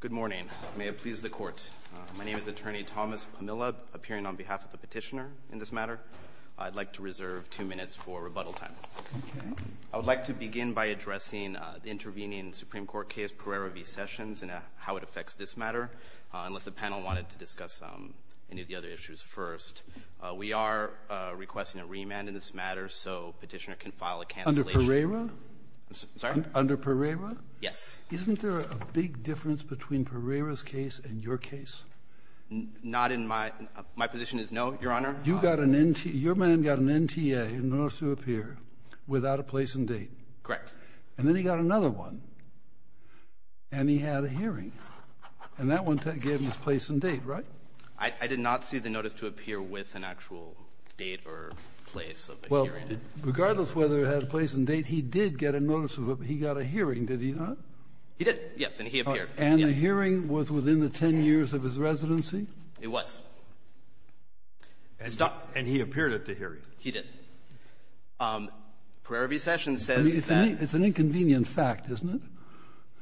Good morning. May it please the Court. My name is Attorney Thomas Pamela, appearing on behalf of the Petitioner in this matter. I'd like to reserve two minutes for rebuttal time. I would like to begin by addressing the intervening Supreme Court case, Pereira v. Sessions, and how it affects this matter, unless the panel wanted to discuss any of the other issues first. We are requesting a remand in this matter so Petitioner can file a cancellation— Under Pereira? Sorry? Under Pereira? Yes. Isn't there a big difference between Pereira's case and your case? Not in my—my position is no, Your Honor. You got an—your man got an NTA, a notice to appear, without a place and date. Correct. And then he got another one, and he had a hearing. And that one gave him his place and date, right? I did not see the notice to appear with an actual date or place of a hearing. Regardless whether it had a place and date, he did get a notice, but he got a hearing, did he not? He did, yes. And he appeared. And the hearing was within the 10 years of his residency? It was. And he appeared at the hearing? He did. Pereira v. Sessions says that— I mean, it's an inconvenient fact, isn't it?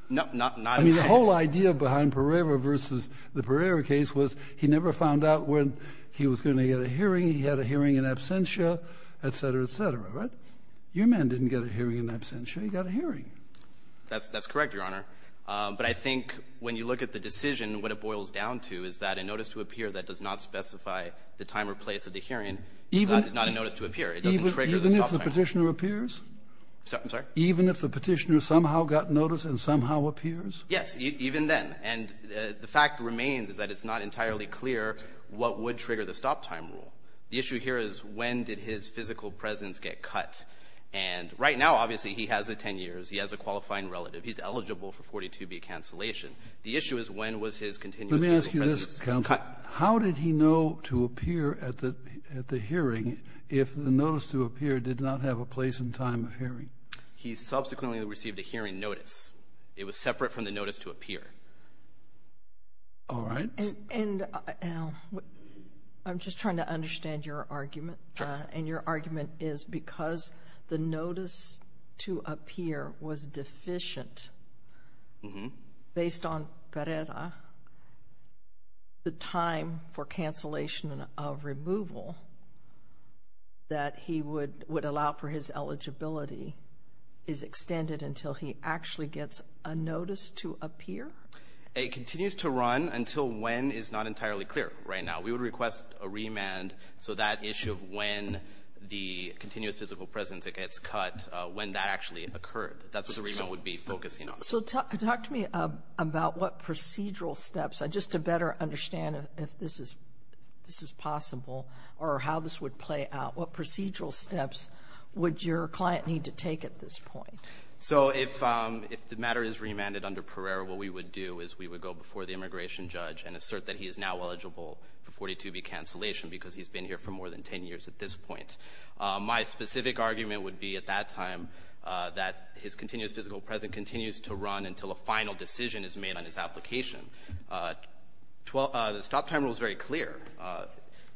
No, not— I mean, the whole idea behind Pereira v. the Pereira case was he never found out when he was going to get a hearing. He had a hearing in absentia, et cetera, et cetera, right? Your man didn't get a hearing in absentia. He got a hearing. That's correct, Your Honor. But I think when you look at the decision, what it boils down to is that a notice to appear that does not specify the time or place of the hearing is not a notice to appear. It doesn't trigger this offering. Even if the Petitioner appears? I'm sorry? Even if the Petitioner somehow got notice and somehow appears? Yes, even then. And the fact remains is that it's not entirely clear what would trigger the stop-time rule. The issue here is when did his physical presence get cut. And right now, obviously, he has a 10 years. He has a qualifying relative. He's eligible for 42B cancellation. The issue is when was his continuous physical presence cut. Let me ask you this, counsel. How did he know to appear at the hearing if the notice to appear did not have a place and time of hearing? He subsequently received a hearing notice. It was separate from the notice to appear. All right. And I'm just trying to understand your argument. Sure. And your argument is because the notice to appear was deficient, based on PERERA, the time for cancellation of removal that he would allow for his eligibility is extended until he actually gets a notice to appear? It continues to run until when is not entirely clear right now. We would request a remand so that issue of when the continuous physical presence gets cut, when that actually occurred. That's what the remand would be focusing on. So talk to me about what procedural steps, just to better understand if this is possible or how this would play out. What procedural steps would your client need to take at this point? So if the matter is remanded under PERERA, what we would do is we would go before the immigration judge and assert that he is now eligible for 42B cancellation because he's been here for more than 10 years at this point. My specific argument would be at that time that his continuous physical presence continues to run until a final decision is made on his application. The stop-time rule is very clear.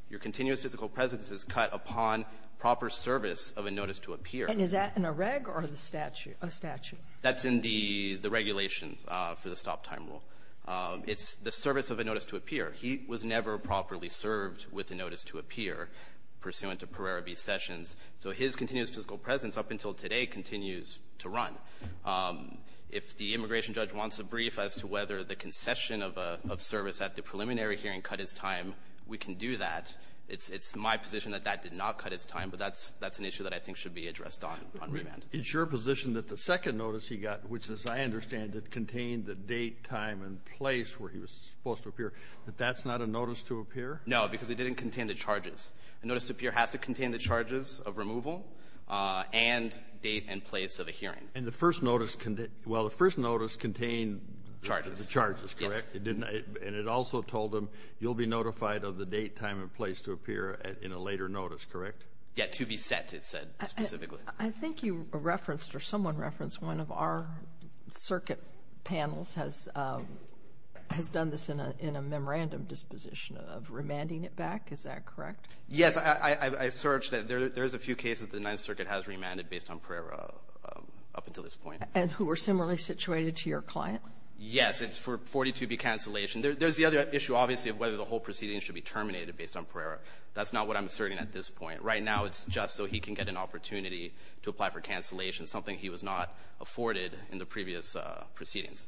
Your continuous physical presence is cut upon proper service of a notice to appear. And is that in a reg or the statute? That's in the regulations for the stop-time rule. It's the service of a notice to appear. He was never properly served with a notice to appear pursuant to PERERA v. Sessions. So his continuous physical presence up until today continues to run. If the immigration judge wants a brief as to whether the concession of service at the preliminary hearing cut his time, we can do that. It's my position that that did not cut his time, but that's an issue that I think should be addressed on remand. It's your position that the second notice he got, which, as I understand it, contained the date, time, and place where he was supposed to appear, that that's not a notice to appear? No, because it didn't contain the charges. A notice to appear has to contain the charges of removal and date and place of a hearing. And the first notice, well, the first notice contained the charges, correct? Charges, yes. And it also told him you'll be notified of the date, time, and place to appear in a later notice, correct? Yeah, to be set, it said specifically. I think you referenced or someone referenced one of our circuit panels has done this in a memorandum disposition of remanding it back. Is that correct? Yes. I searched. There's a few cases the Ninth Circuit has remanded based on PERERA up until this point. And who are similarly situated to your client? Yes. It's for 42B cancellation. There's the other issue, obviously, of whether the whole proceeding should be terminated based on PERERA. That's not what I'm asserting at this point. Right now, it's just so he can get an opportunity to apply for cancellation, something he was not afforded in the previous proceedings.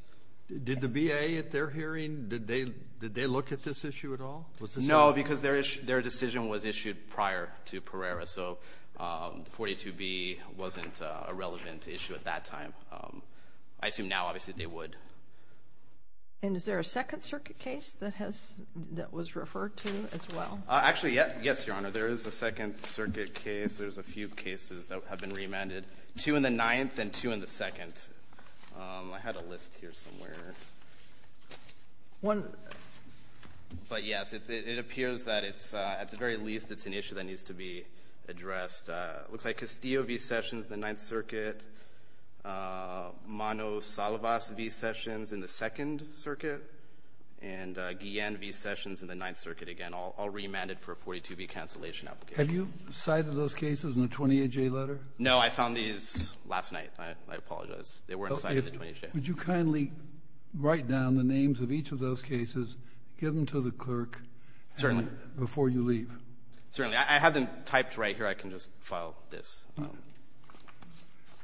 Did the VA at their hearing, did they look at this issue at all? No, because their decision was issued prior to PERERA. So 42B wasn't a relevant issue at that time. I assume now, obviously, they would. And is there a Second Circuit case that was referred to as well? Actually, yes, Your Honor. There is a Second Circuit case. There's a few cases that have been remanded. Two in the Ninth and two in the Second. I had a list here somewhere. But, yes, it appears that it's at the very least it's an issue that needs to be addressed. It looks like Castillo v. Sessions in the Ninth Circuit, Mano Salvas v. Sessions in the Second Circuit, and Guillen v. Sessions in the Ninth Circuit. Again, all remanded for a 42B cancellation application. Have you cited those cases in the 28J letter? No. I found these last night. I apologize. They weren't cited in the 28J. Would you kindly write down the names of each of those cases, give them to the clerk before you leave? Certainly. I have them typed right here. I can just file this.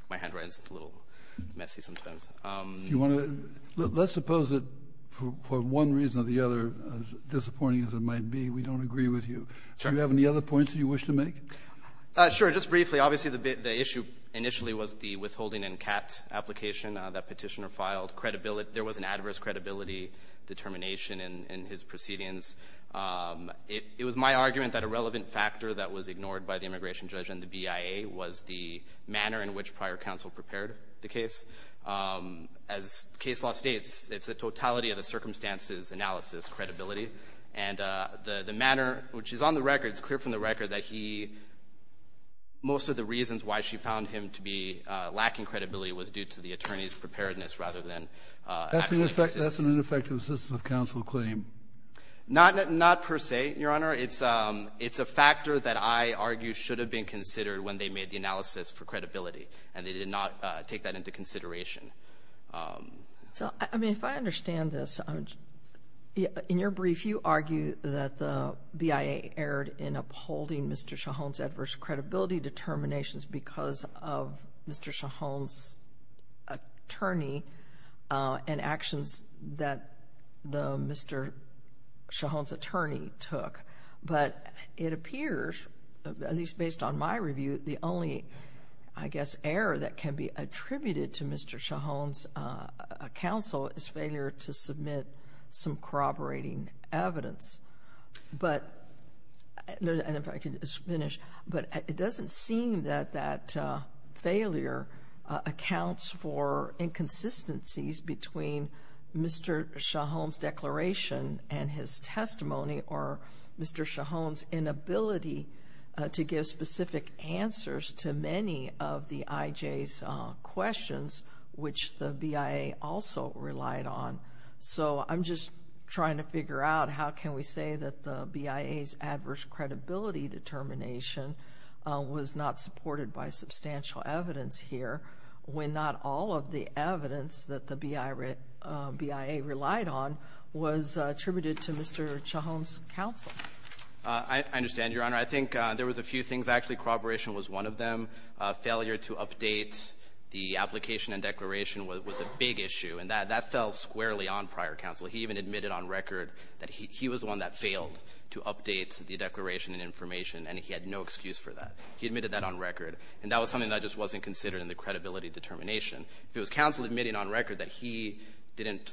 My handwriting is a little messy sometimes. Let's suppose that for one reason or the other, as disappointing as it might be, we don't agree with you. Sure. Do you have any other points that you wish to make? Sure. Just briefly, obviously, the issue initially was the withholding and CAT application that Petitioner filed. There was an adverse credibility determination in his proceedings. It was my argument that a relevant factor that was ignored by the immigration judge and the BIA was the manner in which prior counsel prepared the case. As case law states, it's a totality of the circumstances, analysis, credibility. And the manner, which is on the record, it's clear from the record that he — most of the reasons why she found him to be lacking credibility was due to the attorney's preparedness rather than actual assistance. That's an ineffective assistance of counsel claim. Not per se, Your Honor. It's a factor that I argue should have been considered when they made the analysis for credibility, and they did not take that into consideration. So, I mean, if I understand this, in your brief, you argue that the BIA erred in upholding Mr. Shahone's adverse credibility determinations because of Mr. Shahone's attorney and actions that Mr. Shahone's attorney took. But it appears, at least based on my review, the only, I guess, error that can be attributed to Mr. Shahone's counsel is failure to submit some corroborating evidence. And if I could just finish. But it doesn't seem that that failure accounts for inconsistencies between Mr. Shahone's declaration and his testimony or Mr. Shahone's inability to give specific answers to many of the IJ's questions, which the BIA also relied on. So I'm just trying to figure out how can we say that the BIA's adverse credibility determination was not supported by substantial evidence here when not all of the evidence that the BIA relied on was attributed to Mr. Shahone's counsel? I understand, Your Honor. I think there was a few things. Actually, corroboration was one of them. Failure to update the application and declaration was a big issue, and that fell squarely on prior counsel. He even admitted on record that he was the one that failed to update the declaration and information, and he had no excuse for that. He admitted that on record, and that was something that just wasn't considered in the credibility determination. If it was counsel admitting on record that he didn't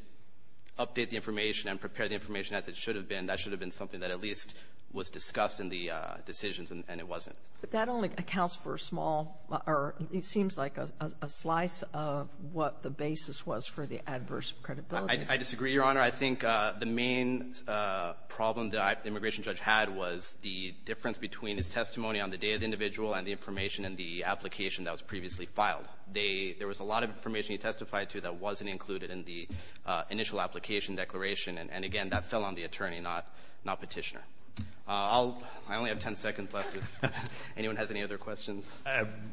update the information and prepare the information as it should have been, that should have been something that at least was discussed in the decisions, and it wasn't. But that only accounts for a small or it seems like a slice of what the basis was for the adverse credibility. I disagree, Your Honor. I think the main problem that the immigration judge had was the difference between his testimony on the day of the individual and the information in the application that was previously filed. They — there was a lot of information he testified to that wasn't included in the initial application declaration, and again, that fell on the attorney, not Petitioner. I'll — I only have 10 seconds left if anyone has any other questions.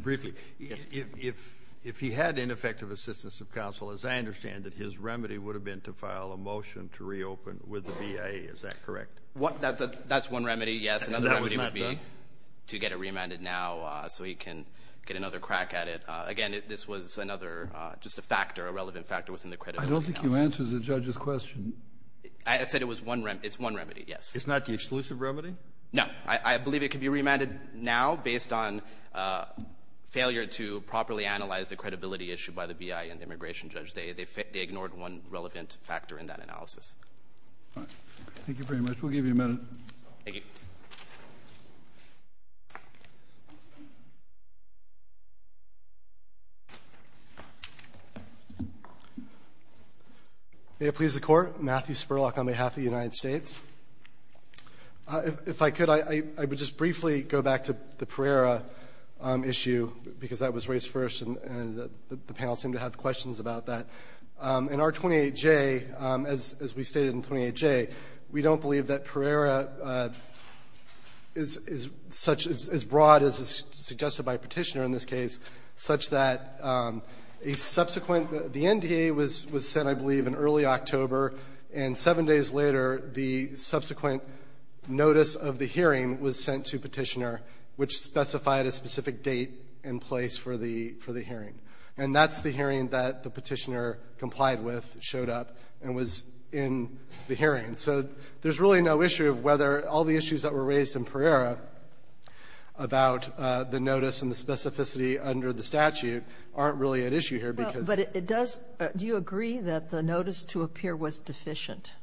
Briefly, if he had ineffective assistance of counsel, as I understand it, his remedy would have been to file a motion to reopen with the BIA. Is that correct? That's one remedy, yes. Another remedy would be to get it remanded now so he can get another crack at it. Again, this was another — just a factor, a relevant factor within the credibility analysis. I don't think you answered the judge's question. I said it was one remedy. It's one remedy, yes. It's not the exclusive remedy? No. I believe it could be remanded now based on failure to properly analyze the credibility issued by the BIA and the immigration judge. They ignored one relevant factor in that analysis. All right. Thank you very much. We'll give you a minute. Thank you. May it please the Court. Matthew Spurlock on behalf of the United States. If I could, I would just briefly go back to the Pereira issue, because that was raised first and the panel seemed to have questions about that. In R-28J, as we stated in 28J, we don't believe that Pereira is such — is broad as is suggested by Petitioner in this case, such that a subsequent — the NDA was sent, I believe, in early October, and seven days later, the subsequent notice of the hearing was sent to Petitioner, which specified a specific date and place for the hearing. And that's the hearing that the Petitioner complied with, showed up, and was in the hearing. So there's really no issue of whether all the issues that were raised in Pereira about the notice and the specificity under the statute aren't really at issue here, because — Well, but it does — do you agree that the notice to appear was deficient?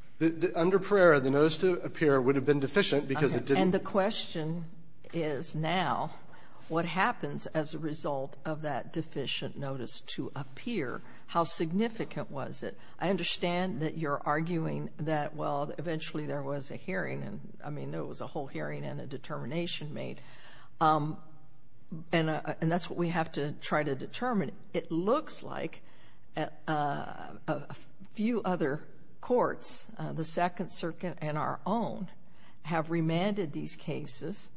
Under Pereira, the notice to appear would have been deficient because it didn't — And the question is now, what happens as a result of that deficient notice to appear? How significant was it? I understand that you're arguing that, well, eventually there was a hearing, and, I mean, there was a whole hearing and a determination made. And that's what we have to try to determine. It looks like a few other courts, the Second Circuit and our own, have remanded these cases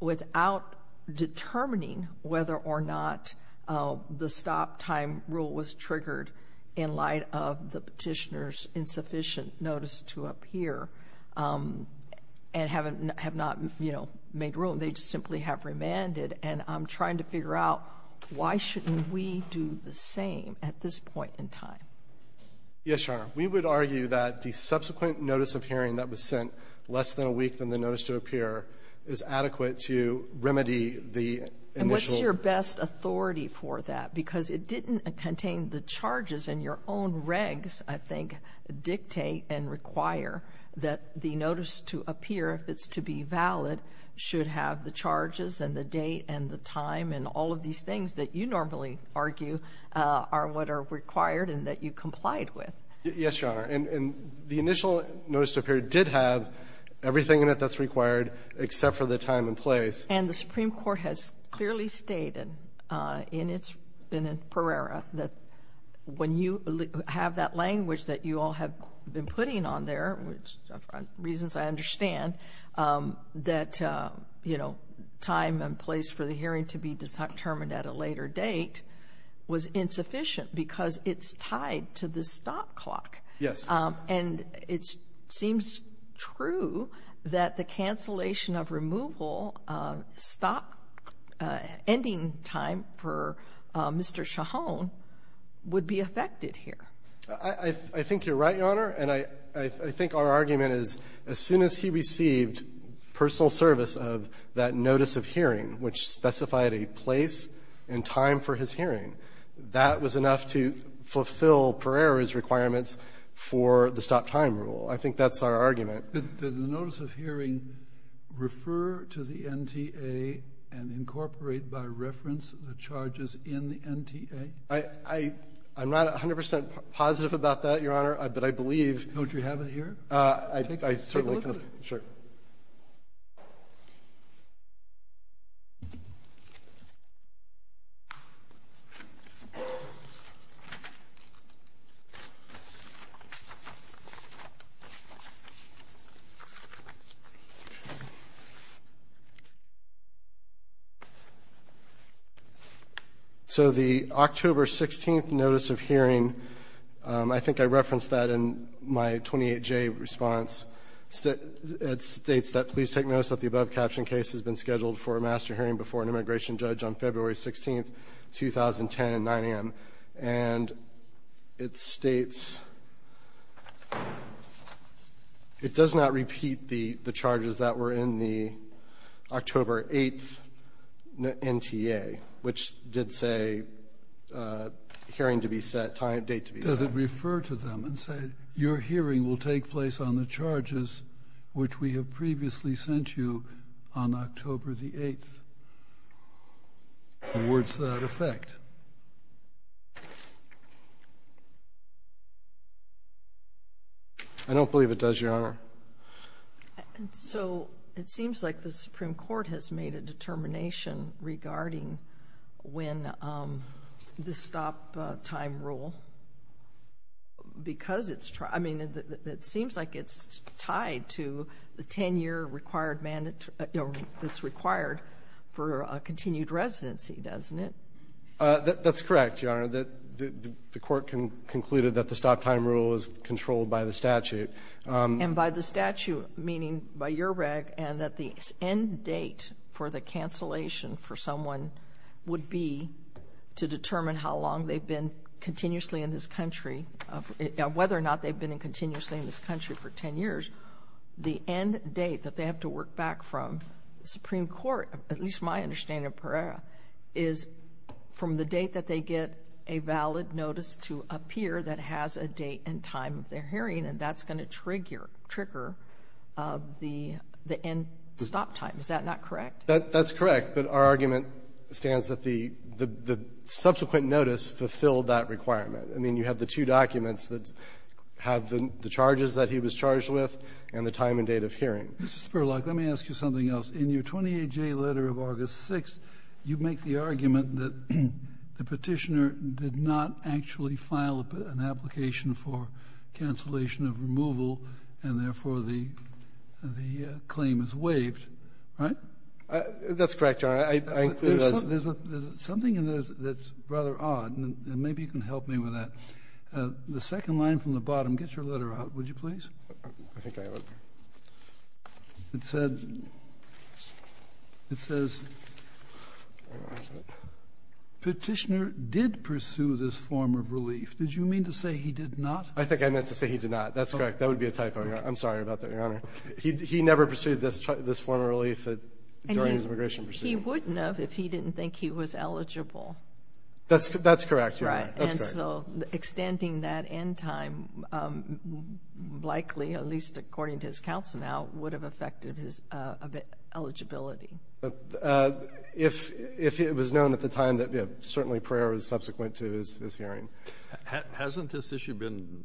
without determining whether or not the stop-time rule was triggered in light of the And haven't — have not, you know, made room. They just simply have remanded. And I'm trying to figure out why shouldn't we do the same at this point in time? Yes, Your Honor. We would argue that the subsequent notice of hearing that was sent less than a week from the notice to appear is adequate to remedy the initial And what's your best authority for that? Because it didn't contain the charges and your own regs, I think, dictate and require that the notice to appear, if it's to be valid, should have the charges and the date and the time and all of these things that you normally argue are what are required and that you complied with. Yes, Your Honor. And the initial notice to appear did have everything in it that's required except for the time and place. And the Supreme Court has clearly stated in its — in its per era that when you have that language that you all have been putting on there, which for reasons I understand, that, you know, time and place for the hearing to be determined at a later date was insufficient because it's tied to the stop clock. Yes. And it seems true that the cancellation of removal stop — ending time for Mr. Shahone would be affected here. I think you're right, Your Honor. And I think our argument is, as soon as he received personal service of that notice of hearing, which specified a place and time for his hearing, that was enough to fulfill Perere's requirements for the stop-time rule. I think that's our argument. Did the notice of hearing refer to the NTA and incorporate by reference the charges in the NTA? I'm not 100 percent positive about that, Your Honor, but I believe — Don't you have it here? I certainly can't. Sure. So the October 16th notice of hearing, I think I referenced that in my 28J response. It states that, Please take notice that the above caption case has been scheduled for a master hearing before an immigration judge on February 16th, 2010, at 9 a.m. And it states it does not repeat the charges that were in the October 8th NTA, which did say hearing to be set, time and date to be set. Does it refer to them and say, Your hearing will take place on the charges which we have previously sent you on October the 8th? And where does that affect? I don't believe it does, Your Honor. So it seems like the Supreme Court has made a determination regarding when the stop-time rule, because it's — I mean, it seems like it's tied to the 10-year required — that's required for a continued residency, doesn't it? That's correct, Your Honor. The Court concluded that the stop-time rule is controlled by the statute. And by the statute, meaning by your reg, and that the end date for the cancellation for someone would be to determine how long they've been continuously in this country — whether or not they've been continuously in this country for 10 years. The end date that they have to work back from, the Supreme Court, at least my understanding of Pereira, is from the date that they get a valid notice to appear that has a date and time of their hearing, and that's going to trigger the end stop time. Is that not correct? That's correct. But our argument stands that the subsequent notice fulfilled that requirement. I mean, you have the two documents that have the charges that he was charged with and the time and date of hearing. Mr. Spurlock, let me ask you something else. In your 28J letter of August 6th, you make the argument that the Petitioner did not actually file an application for cancellation of removal, and therefore the claim is waived, right? That's correct, Your Honor. There's something in there that's rather odd, and maybe you can help me with that. The second line from the bottom, get your letter out, would you please? I think I have it. It said — it says, Petitioner did pursue this form of relief. Did you mean to say he did not? I think I meant to say he did not. That's correct. That would be a typo, Your Honor. I'm sorry about that, Your Honor. He never pursued this form of relief during his immigration proceedings? He wouldn't have if he didn't think he was eligible. That's correct, Your Honor. Right. And so extending that end time likely, at least according to his counsel now, would have affected his eligibility. If it was known at the time that certainly prayer was subsequent to his hearing. Hasn't this issue been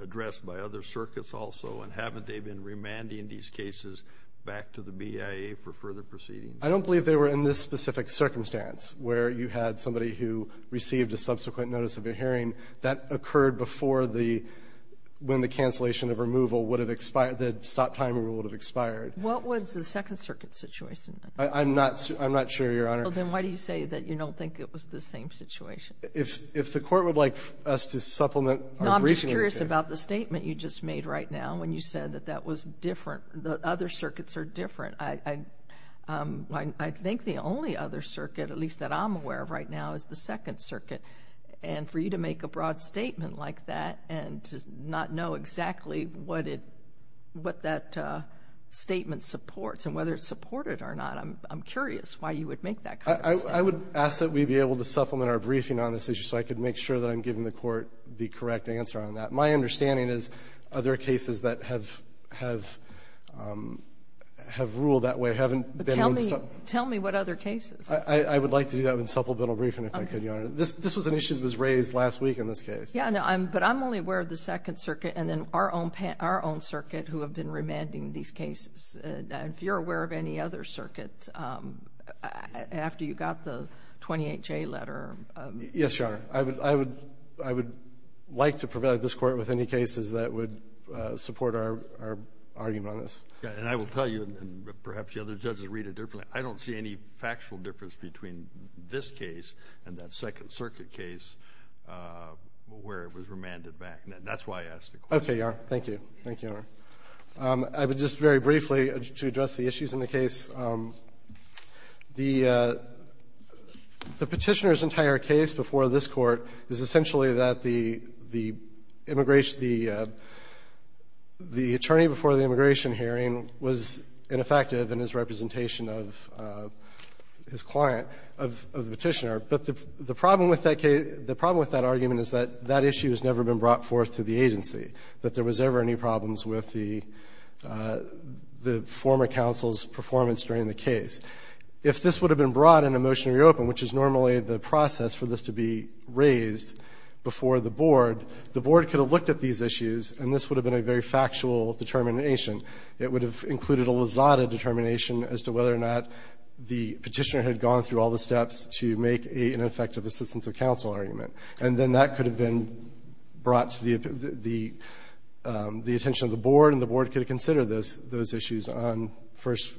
addressed by other circuits also, and haven't they been remanding these cases back to the BIA for further proceedings? I don't believe they were in this specific circumstance, where you had somebody who received a subsequent notice of a hearing. That occurred before the — when the cancellation of removal would have expired, the stop-time rule would have expired. What was the Second Circuit's situation? I'm not sure, Your Honor. Well, then why do you say that you don't think it was the same situation? If the Court would like us to supplement our briefing in this case. No, I'm just curious about the statement you just made right now when you said that that was different. Other circuits are different. I think the only other circuit, at least that I'm aware of right now, is the Second Circuit. And for you to make a broad statement like that and to not know exactly what it — what that statement supports and whether it's supported or not, I'm curious why you would make that kind of statement. I would ask that we be able to supplement our briefing on this issue so I could make sure that I'm giving the Court the correct answer on that. My understanding is other cases that have — have ruled that way haven't been in this — Tell me what other cases. I would like to do that in supplemental briefing, if I could, Your Honor. This was an issue that was raised last week in this case. Yeah. But I'm only aware of the Second Circuit and then our own circuit who have been remanding these cases. And if you're aware of any other circuit, after you got the 28J letter — Yes, Your Honor. I would — I would — I would like to provide this Court with any cases that would support our — our argument on this. And I will tell you, and perhaps the other judges read it differently, I don't see any factual difference between this case and that Second Circuit case where it was remanded back. That's why I asked the question. Okay, Your Honor. Thank you. Thank you, Your Honor. I would just very briefly, to address the issues in the case, the Petitioner's entire case before this Court is essentially that the immigration — the attorney before the immigration hearing was ineffective in his representation of his client, of the Petitioner. But the problem with that case — the problem with that argument is that that issue has never been brought forth to the agency, that there was ever any problems with the — the former counsel's performance during the case. If this would have been brought in a motion to reopen, which is normally the process for this to be raised before the Board, the Board could have looked at these issues and this would have been a very factual determination. It would have included a lazada determination as to whether or not the Petitioner had gone through all the steps to make a ineffective assistance of counsel argument. And then that could have been brought to the — the attention of the Board, and the Board could have considered those issues on first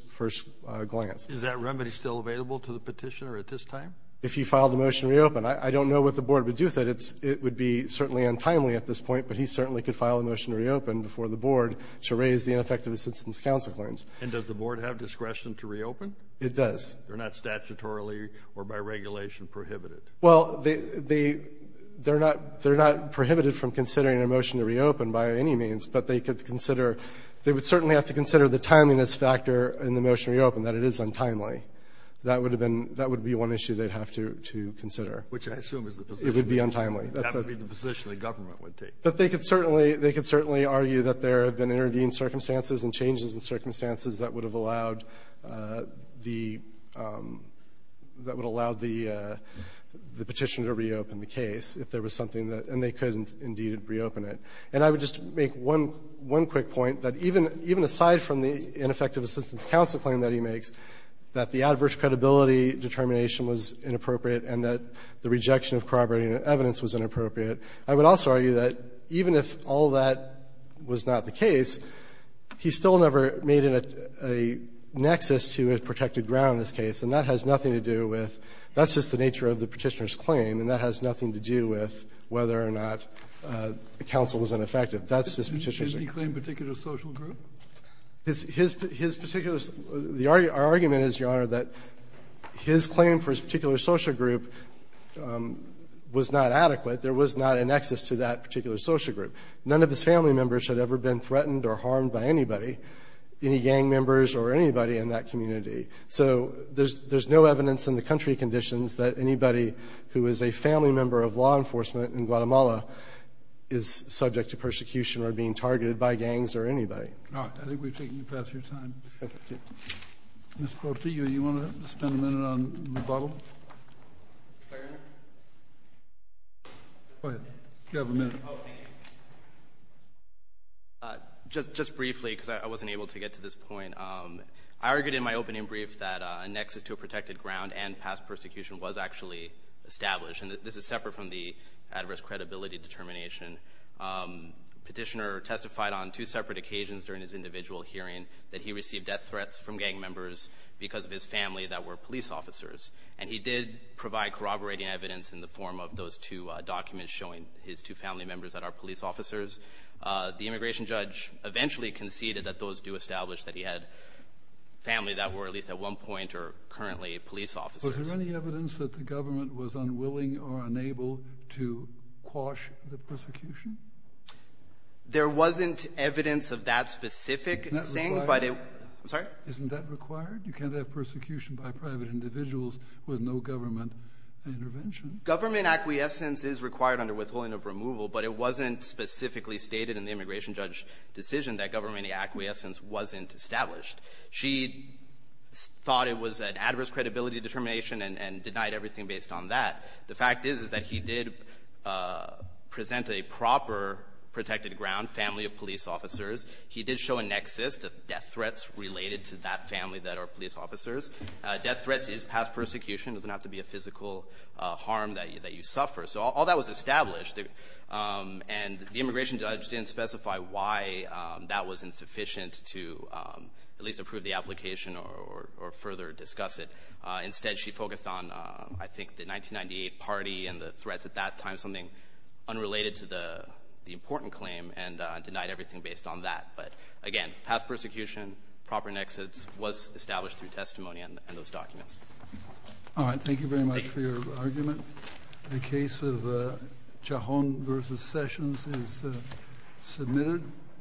glance. Is that remedy still available to the Petitioner at this time? If he filed a motion to reopen. I don't know what the Board would do with it. It would be certainly untimely at this point, but he certainly could file a motion to reopen before the Board to raise the ineffective assistance of counsel claims. And does the Board have discretion to reopen? It does. They're not statutorily or by regulation prohibited. Well, they — they're not — they're not prohibited from considering a motion to reopen by any means, but they could consider — they would certainly have to consider the timeliness factor in the motion to reopen, that it is untimely. That would have been — that would be one issue they'd have to consider. Which I assume is the position. It would be untimely. That would be the position the government would take. But they could certainly — they could certainly argue that there have been intervening circumstances and changes in circumstances that would have allowed the — that would have allowed the Petitioner to reopen the case if there was something that — and they could indeed reopen it. And I would just make one — one quick point, that even — even aside from the ineffective assistance of counsel claim that he makes, that the adverse credibility determination was inappropriate and that the rejection of corroborating evidence was inappropriate, I would also argue that even if all that was not the case, he still never made it a nexus to a protected ground in this case. And that has nothing to do with — that's just the nature of the Petitioner's claim, and that has nothing to do with whether or not counsel was ineffective. That's just Petitioner's claim. Kennedy. Did he claim particular social group? His — his particular — our argument is, Your Honor, that his claim for his particular social group was not adequate. There was not a nexus to that particular social group. None of his family members had ever been threatened or harmed by anybody, any gang members or anybody in that community. So there's — there's no evidence in the country conditions that anybody who is a family member of law enforcement in Guatemala is subject to persecution or being targeted by gangs or anybody. All right. I think we've taken the best of your time. Thank you. Mr. Quartillo, do you want to spend a minute on rebuttal? Mr. Chairman? Go ahead. You have a minute. Just — just briefly, because I wasn't able to get to this point. I argued in my opening brief that a nexus to a protected ground and past persecution was actually established, and this is separate from the adverse credibility determination. Petitioner testified on two separate occasions during his individual hearing that he received death threats from gang members because of his family that were police officers. And he did provide corroborating evidence in the form of those two documents showing his two family members that are police officers. The immigration judge eventually conceded that those do establish that he had family that were at least at one point or currently police officers. Was there any evidence that the government was unwilling or unable to quash the persecution? There wasn't evidence of that specific thing, but it — Isn't that required? I'm sorry? Isn't that required? You can't have persecution by private individuals with no government intervention. Government acquiescence is required under withholding of removal, but it wasn't specifically stated in the immigration judge decision that government acquiescence wasn't established. She thought it was an adverse credibility determination and — and denied everything based on that. The fact is, is that he did present a proper protected ground, family of police officers. He did show a nexus, the death threats related to that family that are police officers. Death threats is past persecution. It doesn't have to be a physical harm that you — that you suffer. So all that was established, and the immigration judge didn't specify why that was insufficient to at least approve the application or — or further discuss it. Instead, she focused on, I think, the 1998 party and the threats at that time, something unrelated to the — the important claim, and denied everything based on that. But again, past persecution, proper nexus was established through testimony and those documents. All right. Thank you very much for your argument. The case of Chahon v. Sessions is submitted.